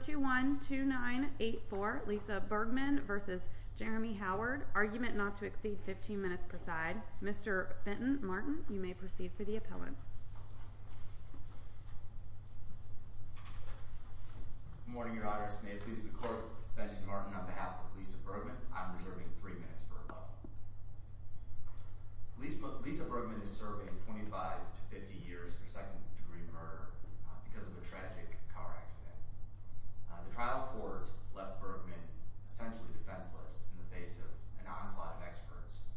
212984 Lisa Bergman v. Jeremy Howard Argument not to exceed 15 minutes preside Mr. Benton Martin you may proceed for the appellate Good morning your honors may it please the court Benton Martin on behalf of Lisa Bergman I'm reserving three minutes for appellate Lisa Bergman is serving 25-50 years for second The trial court left Bergman essentially defenseless in the face of an onslaught of experts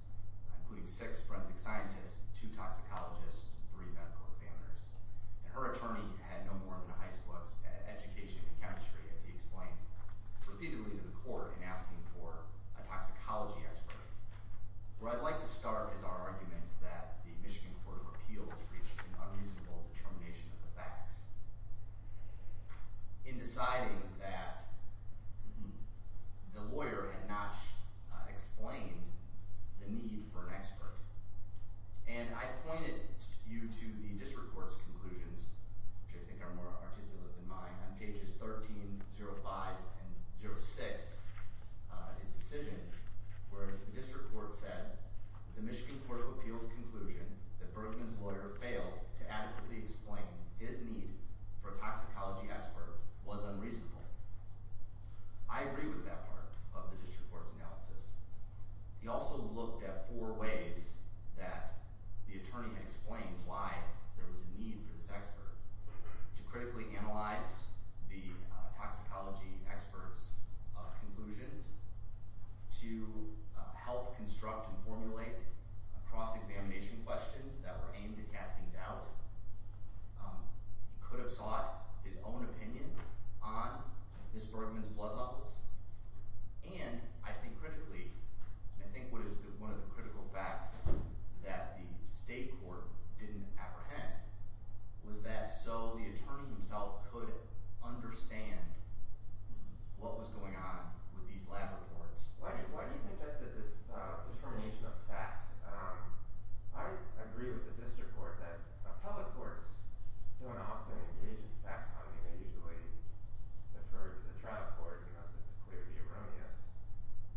including six forensic scientists, two toxicologists, three medical examiners and her attorney had no more than a high school of education in chemistry as he explained repeatedly to the court in asking for a toxicology expert. Where I'd like to start is our argument that the Michigan Court of Appeals reached an unreasonable determination of the facts. In deciding that the lawyer had not explained the need for an expert and I pointed you to the district court's conclusions which I think are more articulate than mine on pages 1305 and 06 his decision where the district court said the Michigan Court of Appeals conclusion that Bergman's lawyer failed to adequately explain his need for a toxicology expert was unreasonable. I agree with that part of the district court's analysis. He also looked at four ways that the attorney had explained why there was a need for this expert to critically analyze the toxicology experts conclusions to help construct and questions that were aimed at casting doubt. He could have sought his own opinion on Ms. Bergman's blood levels and I think critically I think what is one of the critical facts that the state court didn't apprehend was that so the attorney himself could understand what was going on with these lab reports. Why do you think that's a determination of fact? I agree with the district court that appellate courts don't often engage in fact-finding they usually defer to the trial court because it's clearly erroneous.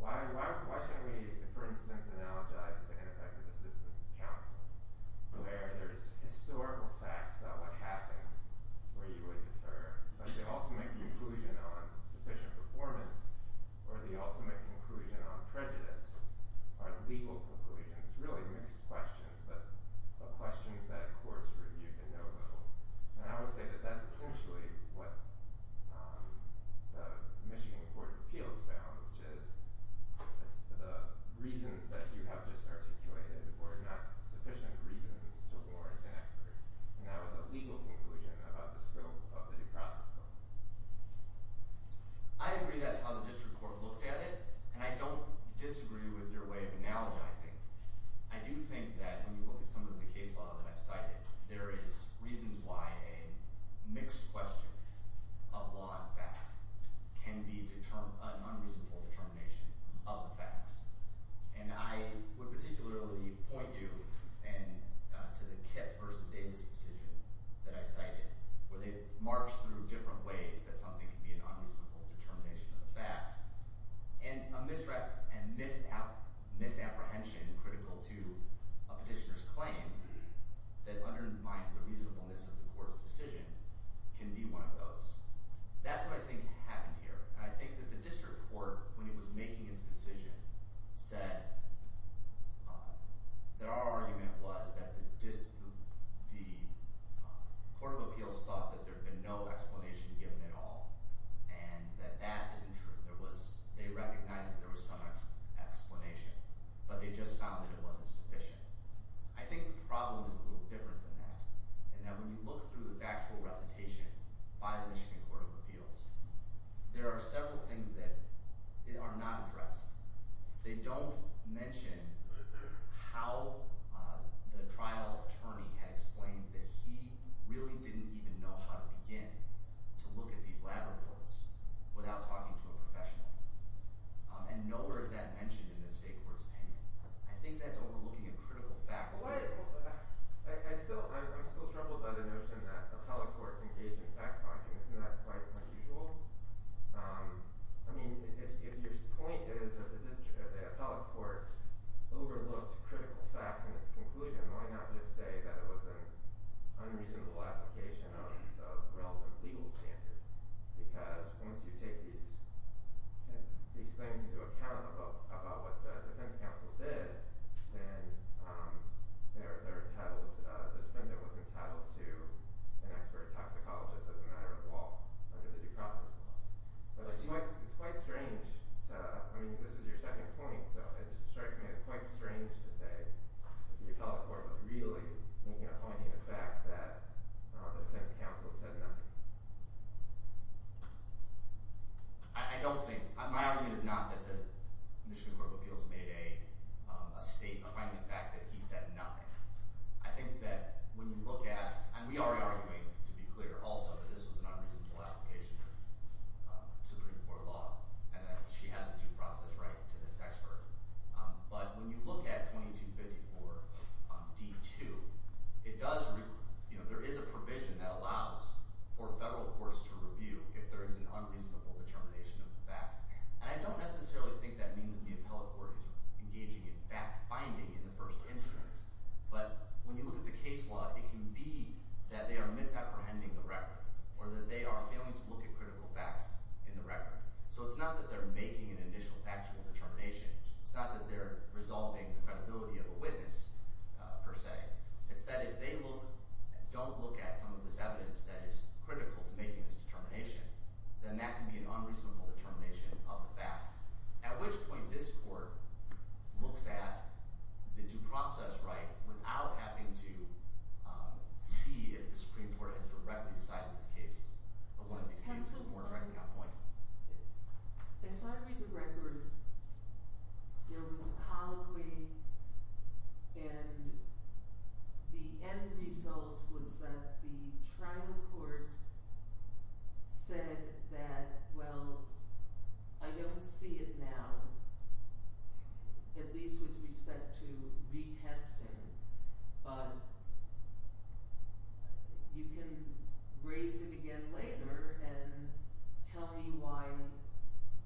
Why shouldn't we for instance analogize to ineffective assistance of counsel where there is historical facts about what happened where you would defer but the ultimate conclusion on sufficient performance or the ultimate conclusion on prejudice are legal conclusions really mixed questions but questions that courts review to no level. I would say that's essentially what the Michigan Court of Appeals found which is the reasons that you have just articulated were not sufficient reasons to warrant an expert and that was a legal conclusion about the scope of the process. I agree that's how the district court looked at it and I don't disagree with your way of analogizing. I do think that when you look at some of the case law that I've cited there is reasons why a mixed question of law and fact can be an unreasonable determination of the facts and I would particularly point you to the Kip versus Davis decision that I cited where they marched through different ways that something can be an unreasonable determination of the facts and a misapprehension critical to a petitioner's claim that undermines the reasonableness of the court's decision can be one of those. That's what I think happened here and I think that the district court when it was making its decision said that our argument was that the court of appeals thought that there had been no explanation given at all and that that isn't true. They recognized that there was some explanation but they just found that it wasn't sufficient. I think the problem is a little different than that and that when you look through the factual recitation by the Michigan Court of Appeals there are several things that are not addressed. They don't mention how the trial attorney had explained that he really didn't even know how to begin to look at these lab reports without talking to a professional and nowhere is that mentioned in the state court's opinion. I think that's overlooking a critical fact. I'm still troubled by the notion that appellate courts engage in fact-finding. Isn't that quite unusual? If your point is that the appellate court overlooked critical facts in its conclusion why not just say that it was an unreasonable application of a relevant legal standard because once you take these things into account about what the defense counsel did then the defendant was entitled to an expert toxicologist as a matter of law under the due process clause. It's quite strange. This is your second point. It strikes me as quite strange to say that the appellate court was really making a point in the fact that the defense counsel said nothing. I don't think. My argument is not that the Michigan Court of Appeals made a statement finding the fact that he said nothing. I think that when you look at, and we are arguing to be clear also that this was an unreasonable application of Supreme Court law and that she has a due process right to this expert. But when you look at 2254 D.2, there is a provision that allows for federal courts to review if there is an unreasonable determination of the facts. I don't necessarily think that means that the appellate court is engaging in fact-finding in the first instance. But when you look at the case law, it can be that they are misapprehending the record or that they are failing to look at critical facts in the record. So it's not that they are making an initial factual determination. It's not that they are resolving the credibility of a witness per se. It's that if they don't look at some of this evidence that is critical to making this determination, then that can be an unreasonable determination of the facts. At which point this court looks at the due process right without having to see if the facts are correct in this case. I saw you read the record. There was a colloquy and the end result was that the trial court said that, well, I don't see it now, at least with respect to retesting. But you can raise it again later and tell me why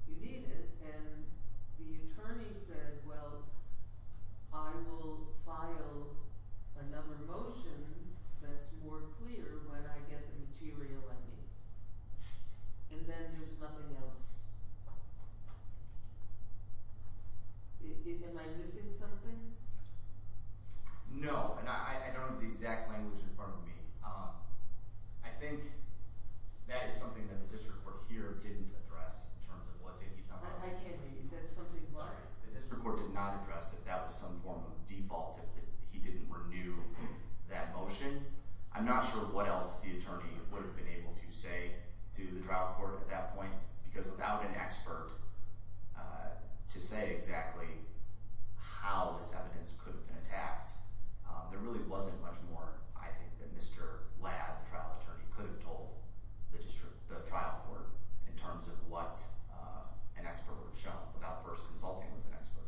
you need it. And the attorney said, well, I will file another motion that's more clear when I get the material I need. And then there's nothing else. Am I missing something? No, and I don't have the exact language in front of me. I think that is something that the district court here didn't address in terms of what did he sound like. I can't hear you. The district court did not address that that was some form of default if he didn't renew that motion. I'm not sure what else the attorney would have been able to say to the trial court at that point because without an expert to say exactly how this evidence could have been attacked, there really wasn't much more I think that Mr. Ladd, the trial attorney, could have told the trial court in terms of what an expert would have shown without first consulting with an expert.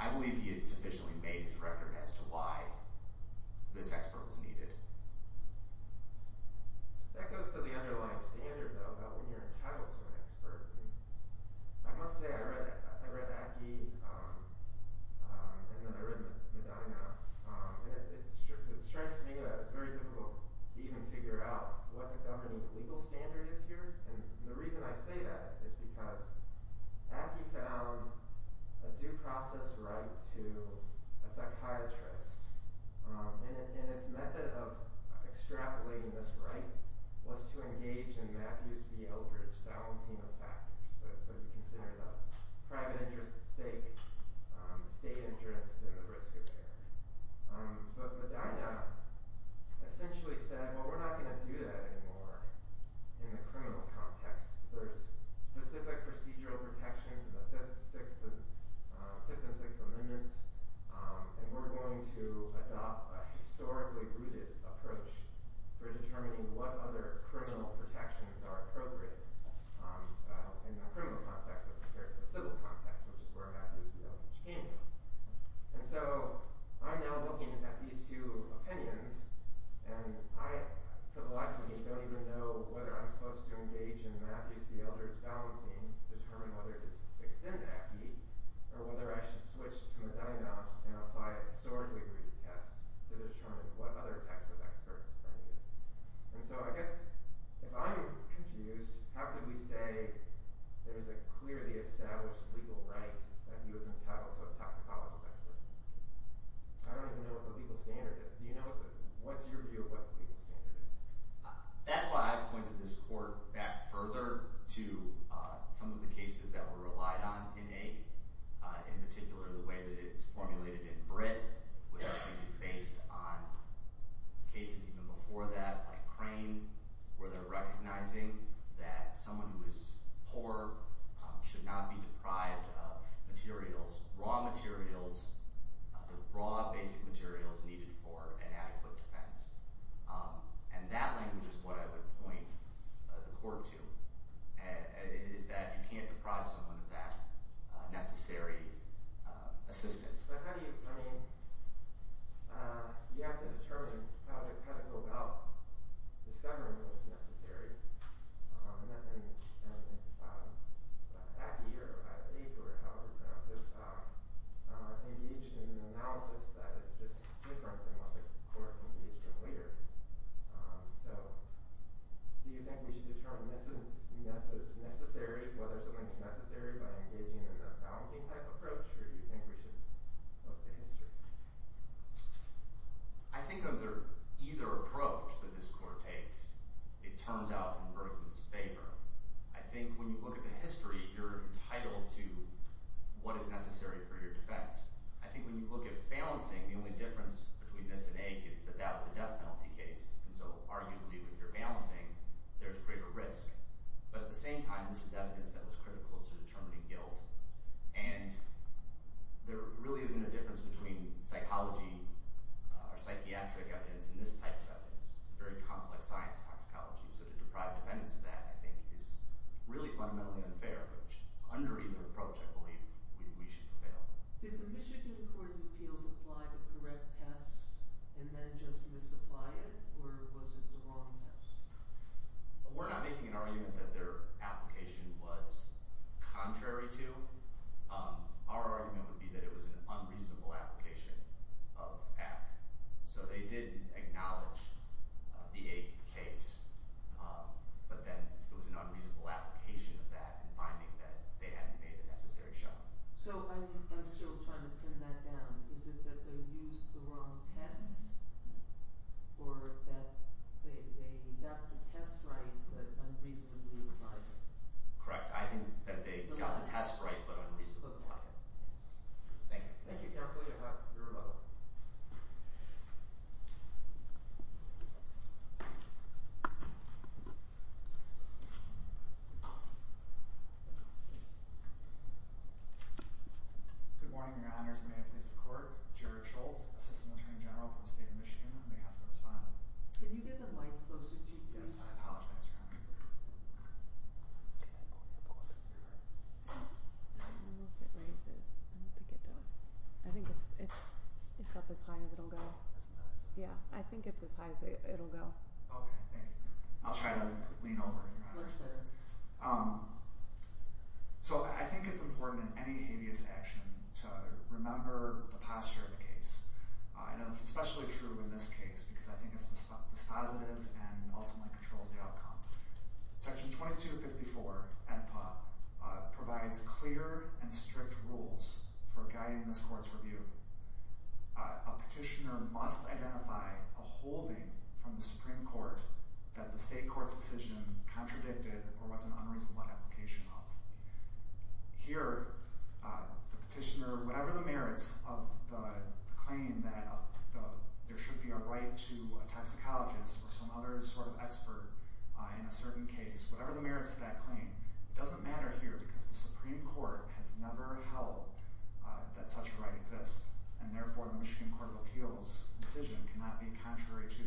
I believe he had sufficiently made his record as to why this expert was needed. That goes to the underlying standard, though, about when you're entitled to an expert. I must say, I read Ackie and then I read Medina. It strikes me that it's very difficult to even figure out what the governing legal standard is here. And the reason I say that is because Ackie found a due process right to a psychiatrist. And its method of extrapolating this right was to engage in Matthews v. Eldridge balancing of factors. So you consider the private interest at stake, the state interest, and the risk of error. But Medina essentially said, well, we're not going to do that anymore in the criminal context. There's specific procedural protections in the Fifth and Sixth Amendments, and we're going to adopt a historically rooted approach for determining what other criminal protections are appropriate in the criminal context as compared to the civil context, which is where Matthews v. Eldridge came from. And so I'm now looking at these two opinions, and I for the life of me don't even know whether I'm supposed to engage in Matthews v. Eldridge balancing to determine whether to extend Ackie or whether I should switch to Medina and apply a historically rooted test to determine what other types of experts are needed. And so I guess if I'm confused, how could we say there is a clearly established legal right that he was entitled to a toxicology expert? I don't even know what the legal standard is. Do you know what's your view of what the legal standard is? That's why I've pointed this court back further to some of the cases that were relied on in AIC, in particular the way that it's formulated in BRIT, which I think is based on cases even before that, like Crane, where they're recognizing that someone who is poor should not be deprived of materials, raw materials, the raw basic materials needed for an adequate defense. And that language is what I would point the court to, and it is that you can't deprive someone of that necessary assistance. But how do you – I mean, you have to determine how to kind of go about discovering what's necessary. And Ackie, or I believe, or however you pronounce it, engaged in an analysis that is just different than what the court engaged in later. So do you think we should determine necessary, whether something is necessary, by engaging in a balancing type approach, or do you think we should look to history? I think either approach that this court takes, it turns out in Brooklyn's favor. I think when you look at the history, you're entitled to what is necessary for your defense. I think when you look at balancing, the only difference between this and AIC is that that was a death penalty case. And so arguably, if you're balancing, there's greater risk. But at the same time, this is evidence that was critical to determining guilt. And there really isn't a difference between psychology or psychiatric evidence and this type of evidence. It's a very complex science, toxicology. So to deprive defendants of that, I think, is really fundamentally unfair. Under either approach, I believe, we should prevail. Did the Michigan Court of Appeals apply the correct test and then just misapply it, or was it the wrong test? We're not making an argument that their application was contrary to. Our argument would be that it was an unreasonable application of AIC. So they did acknowledge the AIC case, but then it was an unreasonable application of that and finding that they hadn't made the necessary shot. So I'm still trying to trim that down. Is it that they used the wrong test or that they got the test right but unreasonably applied it? Correct. I think that they got the test right but unreasonably applied it. Thank you. Thank you, counsel. You're welcome. Thank you. Good morning, your honors. May I please have the court? Jared Schultz, assistant attorney general for the state of Michigan, on behalf of the respondent. Can you get the mic closer to you? Yes, I apologize. I don't know if it raises. I don't think it does. I think it's up as high as it'll go. Yeah, I think it's as high as it'll go. Okay, thank you. I'll try to lean over, your honors. Much better. So I think it's important in any habeas action to remember the posture of the case. I know that's especially true in this case because I think it's dispositive and ultimately controls the outcome. Section 2254 provides clear and strict rules for guiding this court's review. A petitioner must identify a holding from the Supreme Court that the state court's decision contradicted or was an unreasonable application of. Here, the petitioner, whatever the merits of the claim that there should be a right to a toxicologist or some other sort of expert in a certain case, whatever the merits of that claim, it doesn't matter here because the Supreme Court has never held that such a right exists. And therefore, the Michigan Court of Appeals' decision cannot be contrary to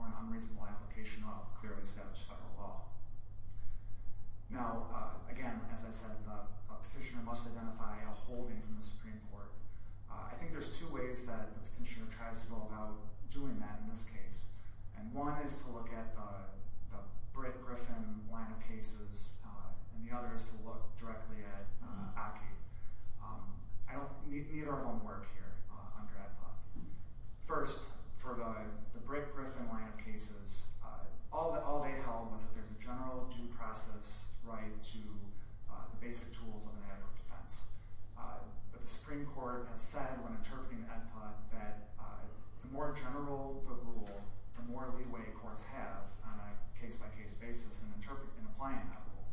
or an unreasonable application of clearly established federal law. Now, again, as I said, a petitioner must identify a holding from the Supreme Court. I think there's two ways that a petitioner tries to go about doing that in this case. And one is to look at the Britt-Griffin line of cases, and the other is to look directly at Aki. I don't need our homework here, Andrea. First, for the Britt-Griffin line of cases, all they held was that there's a general due process right to the basic tools of an adequate defense. But the Supreme Court has said when interpreting the AEDPA that the more general the rule, the more leeway courts have on a case-by-case basis in applying that rule.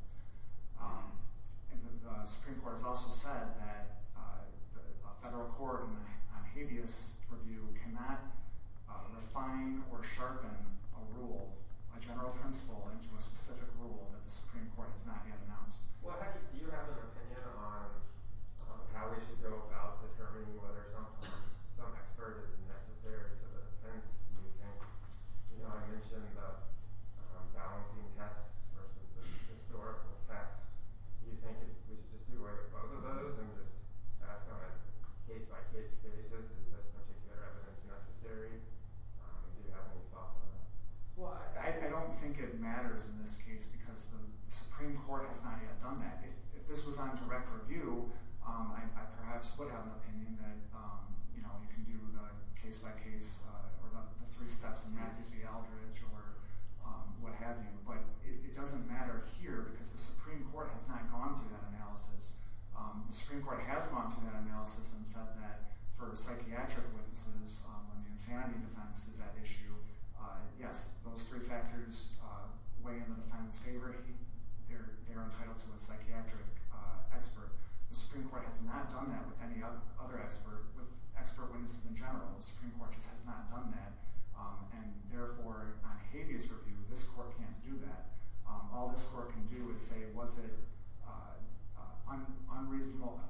The Supreme Court has also said that a federal court on habeas review cannot refine or sharpen a rule, a general principle into a specific rule that the Supreme Court has not yet announced. Well, do you have an opinion on how we should go about determining whether some expert is necessary to the defense? You know, I mentioned the balancing tests versus the historical tests. Do you think we should just do both of those and just ask on a case-by-case basis, is this particular evidence necessary? Do you have any thoughts on that? Well, I don't think it matters in this case because the Supreme Court has not yet done that. If this was on direct review, I perhaps would have an opinion that, you know, you can do the case-by-case or the three steps in Matthews v. Aldridge or what have you. But it doesn't matter here because the Supreme Court has not gone through that analysis. The Supreme Court has gone through that analysis and said that for psychiatric witnesses, when the insanity defense is at issue, yes, those three factors weigh in the defense favor. They're entitled to a psychiatric expert. The Supreme Court has not done that with any other expert, with expert witnesses in general. The Supreme Court just has not done that. And therefore, on Habeas Review, this court can't do that. All this court can do is say, was it an unreasonable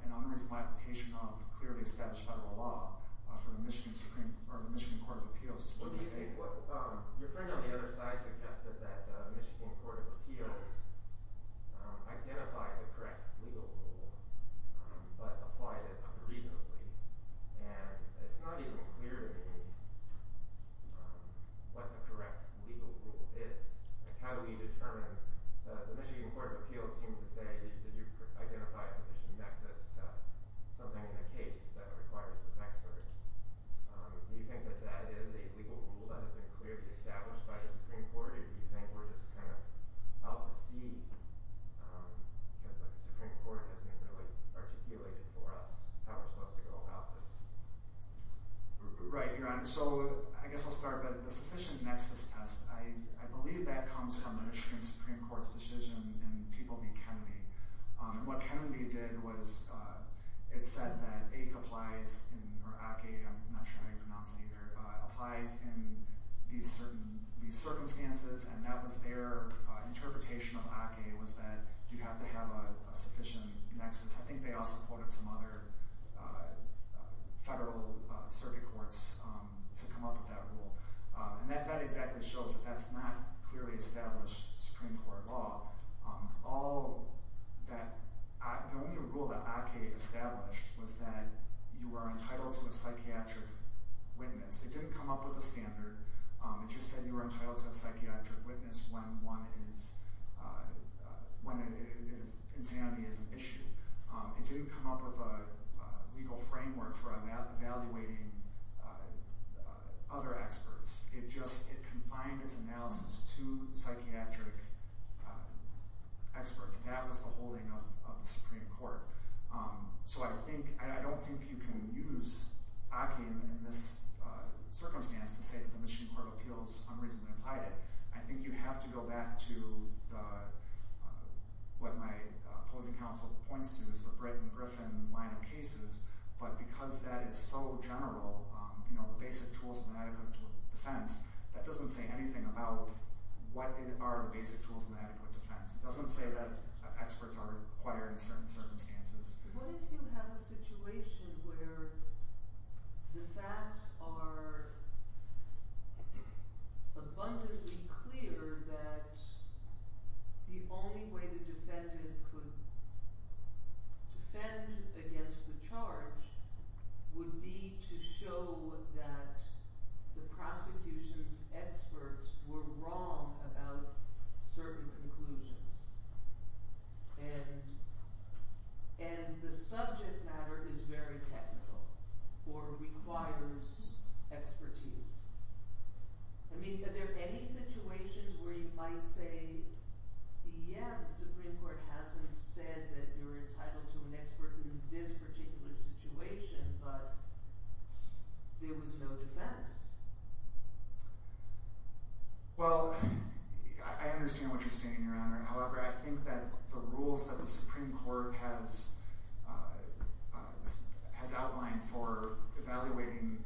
application of clearly established federal law for the Michigan Supreme – or the Michigan Court of Appeals? What do you think – your friend on the other side suggested that the Michigan Court of Appeals identified the correct legal rule but applied it unreasonably. And it's not even clear to me what the correct legal rule is. How do we determine – the Michigan Court of Appeals seemed to say, did you identify sufficient nexus to something in the case that requires this expert? Do you think that that is a legal rule that has been clearly established by the Supreme Court? Or do you think we're just kind of out to sea because the Supreme Court hasn't really articulated for us how we're supposed to go about this? Right, Your Honor. So I guess I'll start with the sufficient nexus test. I believe that comes from the Michigan Supreme Court's decision in People v. Kennedy. What Kennedy did was it said that AIC applies – or ACAE, I'm not sure how you pronounce it either – applies in these circumstances. And that was their interpretation of ACAE was that you have to have a sufficient nexus. I think they also quoted some other federal circuit courts to come up with that rule. And that exactly shows that that's not clearly established Supreme Court law. All that – the only rule that ACAE established was that you are entitled to a psychiatric witness. It didn't come up with a standard. It just said you are entitled to a psychiatric witness when one is – when insanity is an issue. It didn't come up with a legal framework for evaluating other experts. It just – it confined its analysis to psychiatric experts. That was the holding of the Supreme Court. So I think – and I don't think you can use ACAE in this circumstance to say that the Michigan Court of Appeals unreasonably applied it. I think you have to go back to the – what my opposing counsel points to is the Britt and Griffin line of cases. But because that is so general, the basic tools of an adequate defense, that doesn't say anything about what are the basic tools of an adequate defense. It doesn't say that experts are required in certain circumstances. What if you have a situation where the facts are abundantly clear that the only way the defendant could defend against the charge would be to show that the prosecution's experts were wrong about certain conclusions and the subject matter is very technical or requires expertise. I mean, are there any situations where you might say, yeah, the Supreme Court hasn't said that you're entitled to an expert in this particular situation, but there was no defense? Well, I understand what you're saying, Your Honor. However, I think that the rules that the Supreme Court has outlined for evaluating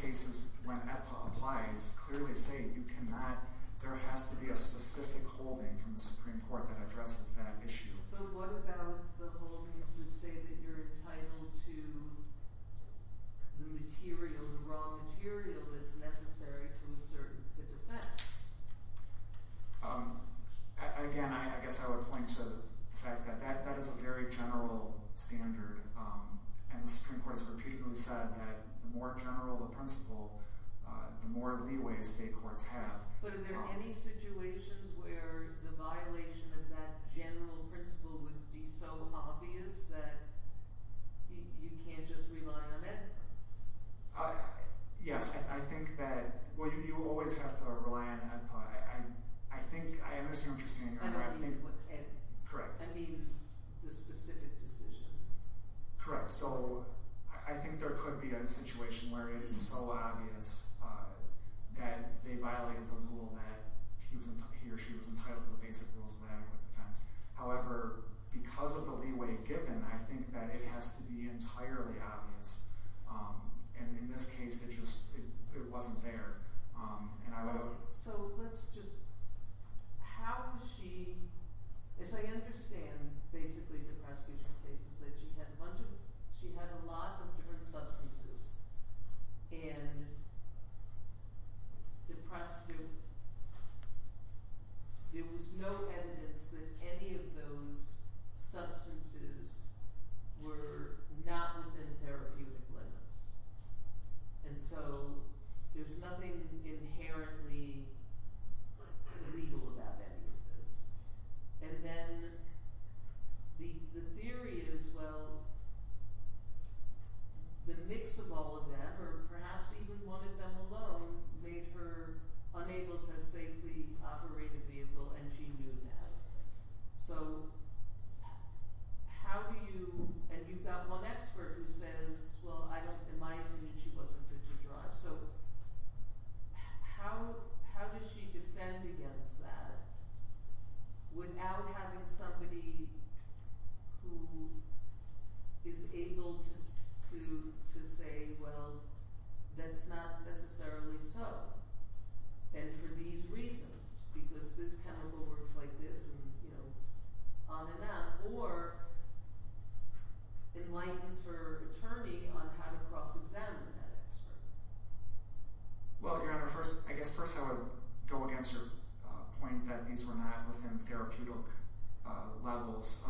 cases when EPA applies clearly say you cannot – there has to be a specific holding from the Supreme Court that addresses that issue. But what about the holdings that say that you're entitled to the material, the raw material that's necessary to assert the defense? Again, I guess I would point to the fact that that is a very general standard and the Supreme Court has repeatedly said that the more general the principle, the more leeway state courts have. But are there any situations where the violation of that general principle would be so obvious that you can't just rely on it? Yes. I think that – well, you always have to rely on EPA. I think – I understand what you're saying, Your Honor. I don't mean EPA. Correct. I mean the specific decision. Correct. So I think there could be a situation where it is so obvious that they violated the rule that he or she was entitled to the basic rules of adequate defense. However, because of the leeway given, I think that it has to be entirely obvious. And in this case, it just – it wasn't there. Okay. So let's just – how was she – as I understand basically the prosecution's case is that she had a bunch of – she had a lot of different substances and the prosecutor – there was no evidence that any of those substances were not within therapeutic limits. And so there's nothing inherently illegal about any of this. And then the theory is, well, the mix of all of them, or perhaps even one of them alone, made her unable to safely operate a vehicle and she knew that. So how do you – and you've got one expert who says, well, I don't – in my opinion, she wasn't good to drive. So how does she defend against that without having somebody who is able to say, well, that's not necessarily so. And for these reasons, because this chemical works like this and on and on. Or it might use her attorney on how to cross-examine that expert. Well, Your Honor, first – I guess first I would go against your point that these were not within therapeutic levels.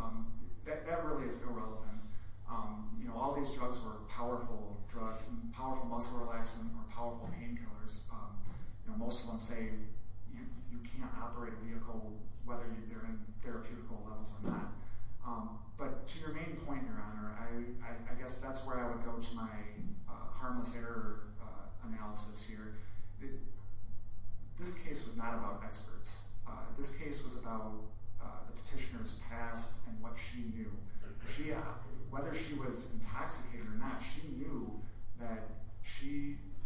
That really is irrelevant. You know, all these drugs were powerful drugs. Powerful muscle relaxants were powerful painkillers. So whether they're in therapeutical levels or not. But to your main point, Your Honor, I guess that's where I would go to my harmless error analysis here. This case was not about experts. This case was about the petitioner's past and what she knew. Whether she was intoxicated or not, she knew that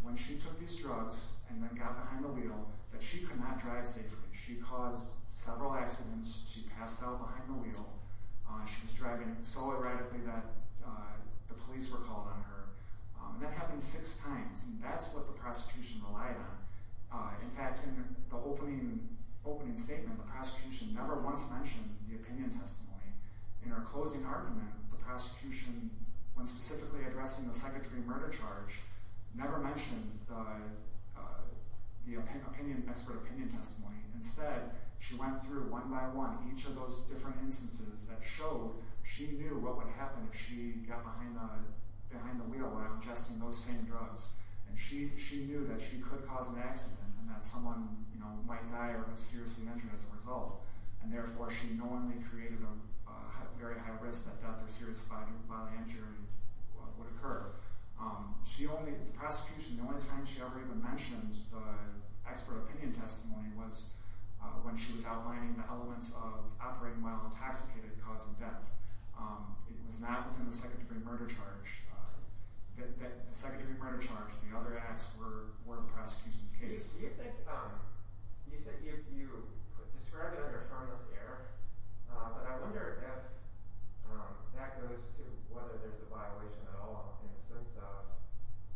when she took these drugs and then got behind the wheel, that she could not drive safely. She caused several accidents. She passed out behind the wheel. She was driving so erratically that the police were called on her. And that happened six times. And that's what the prosecution relied on. In fact, in the opening statement, the prosecution never once mentioned the opinion testimony. In her closing argument, the prosecution, when specifically addressing the psychiatry murder charge, never mentioned the expert opinion testimony. Instead, she went through, one by one, each of those different instances that showed she knew what would happen if she got behind the wheel while ingesting those same drugs. And she knew that she could cause an accident and that someone might die or be seriously injured as a result. And therefore, she normally created a very high risk that death or serious body injury would occur. The prosecution, the only time she ever even mentioned the expert opinion testimony was when she was outlining the elements of operating while intoxicated causing death. It was not within the psychiatry murder charge. The psychiatry murder charge, the other acts, were the prosecution's case. You said you describe it under harmless error. But I wonder if that goes to whether there's a violation at all in the sense of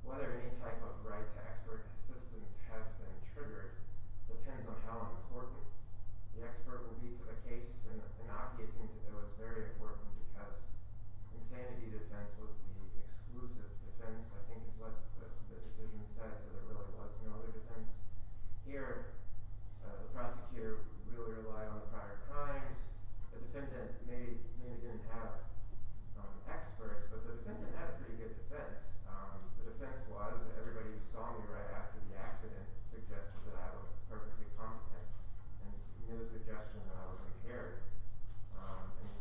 whether any type of right to expert assistance has been triggered. It depends on how important the expert will be to the case. In the inoculating, it was very important because insanity defense was the exclusive defense, I think, is what the decision said. So there really was no other defense. Here, the prosecutor really relied on the prior crimes. The defendant maybe didn't have experts, but the defendant had a pretty good defense. The defense was, everybody who saw me right after the accident suggested that I was perfectly competent. There was no suggestion that I was impaired.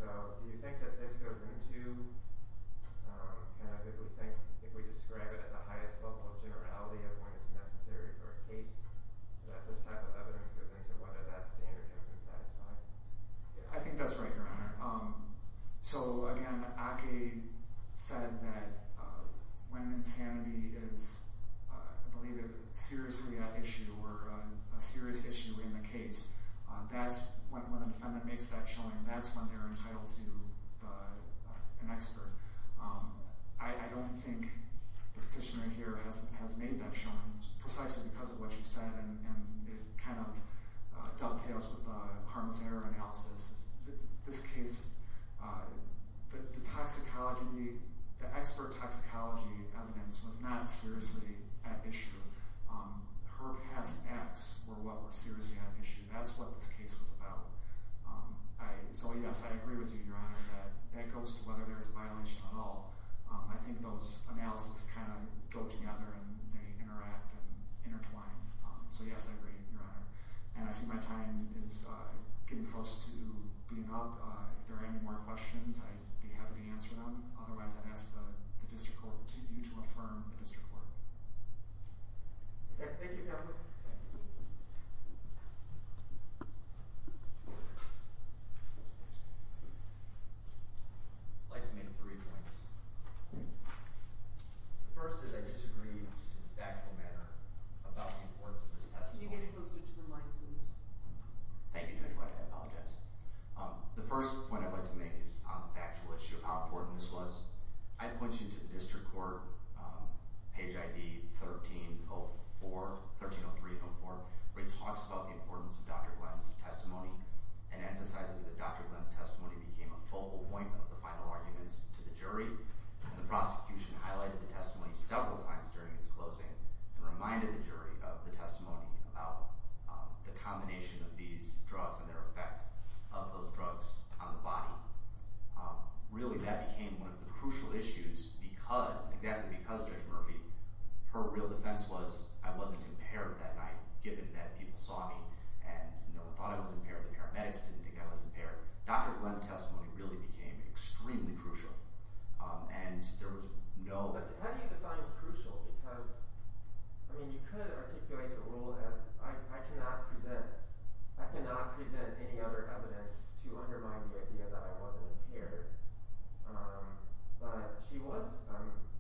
Do you think that this goes into, if we describe it at the highest level of generality of when it's necessary for a case, that this type of evidence goes into whether that standard has been satisfied? I think that's right, Your Honor. So, again, Ake said that when insanity is, I believe, seriously an issue or a serious issue in the case, that's when the defendant makes that showing. That's when they're entitled to an expert. I don't think the petitioner here has made that showing, precisely because of what you said, and it kind of dovetails with the harm's error analysis. This case, the toxicology, the expert toxicology evidence was not seriously an issue. Her past acts were what were seriously an issue. That's what this case was about. So, yes, I agree with you, Your Honor, that that goes to whether there's a violation at all. I think those analyses kind of go together and they interact and intertwine. So, yes, I agree, Your Honor. And I see my time is getting close to being up. If there are any more questions, I'd be happy to answer them. Otherwise, I'd ask the district court, you to affirm the district court. Thank you, counsel. I'd like to make three points. The first is I disagree, just in a factual manner, about the importance of this testimony. Could you get it closer to the mic, please? Thank you, Judge White. I apologize. The first point I'd like to make is on the factual issue, how important this was. I'd point you to the district court, page ID 1304, 1303-04, where it talks about the importance of Dr. Glenn's testimony and emphasizes that Dr. Glenn's testimony became a full appointment of the final arguments to the jury. The prosecution highlighted the testimony several times during its closing and reminded the jury of the testimony about the combination of these drugs and their effect of those drugs on the body. Really, that became one of the crucial issues exactly because Judge Murphy, her real defense was, I wasn't impaired that night given that people saw me and thought I was impaired. The paramedics didn't think I was impaired. Dr. Glenn's testimony really became extremely crucial. And there was no... I mean, you could articulate the rule as, I cannot present any other evidence to undermine the idea that I wasn't impaired. But she was,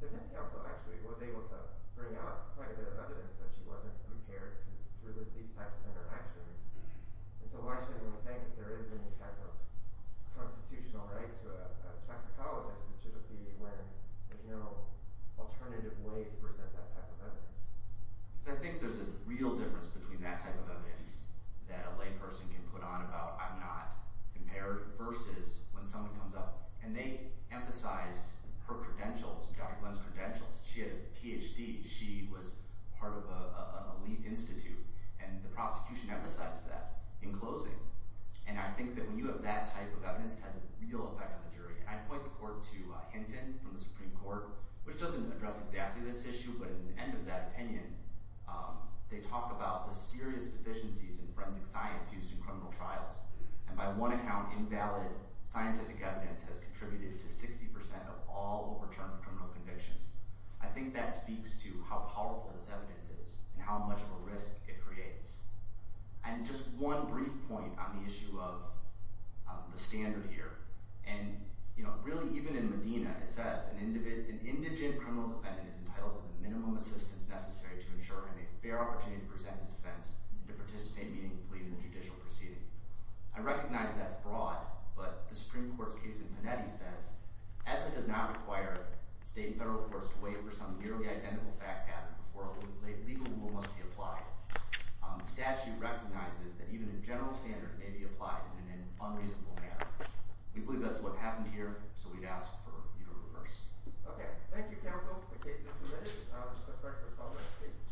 the defense counsel actually was able to bring out quite a bit of evidence that she wasn't impaired through these types of interactions. So why shouldn't we think if there is any type of constitutional right to a toxicologist, it should be when there's no alternative way to present that type of evidence? Because I think there's a real difference between that type of evidence that a layperson can put on about, I'm not impaired versus when someone comes up. And they emphasized her credentials, Dr. Glenn's credentials. She had a PhD. She was part of an elite institute. And the prosecution emphasized that in closing. And I think that when you have that type of evidence, it has a real effect on the jury. I point the court to Hinton from the Supreme Court, which doesn't address exactly this issue, but at the end of that opinion they talk about the serious deficiencies in forensic science used in criminal trials. And by one account invalid scientific evidence has contributed to 60% of all overturned criminal convictions. I think that speaks to how powerful this evidence is and how much of a risk it creates. And just one brief point on the issue of the standard here. And really even in Medina, it says an indigent criminal defendant is entitled to the minimum assistance necessary to ensure a fair opportunity to present his defense and to participate meaningfully in the judicial proceeding. I recognize that that's broad, but the Supreme Court's case in Panetti says, ethic does not require state and federal courts to wait for some nearly identical fact pattern before a legal rule must be applied. The statute recognizes that even a general standard may be applied in an unreasonable manner. We believe that's what happened here, so we'd ask for you to reverse. Okay. Thank you, counsel. The case is submitted. The clerk will call the roll, please.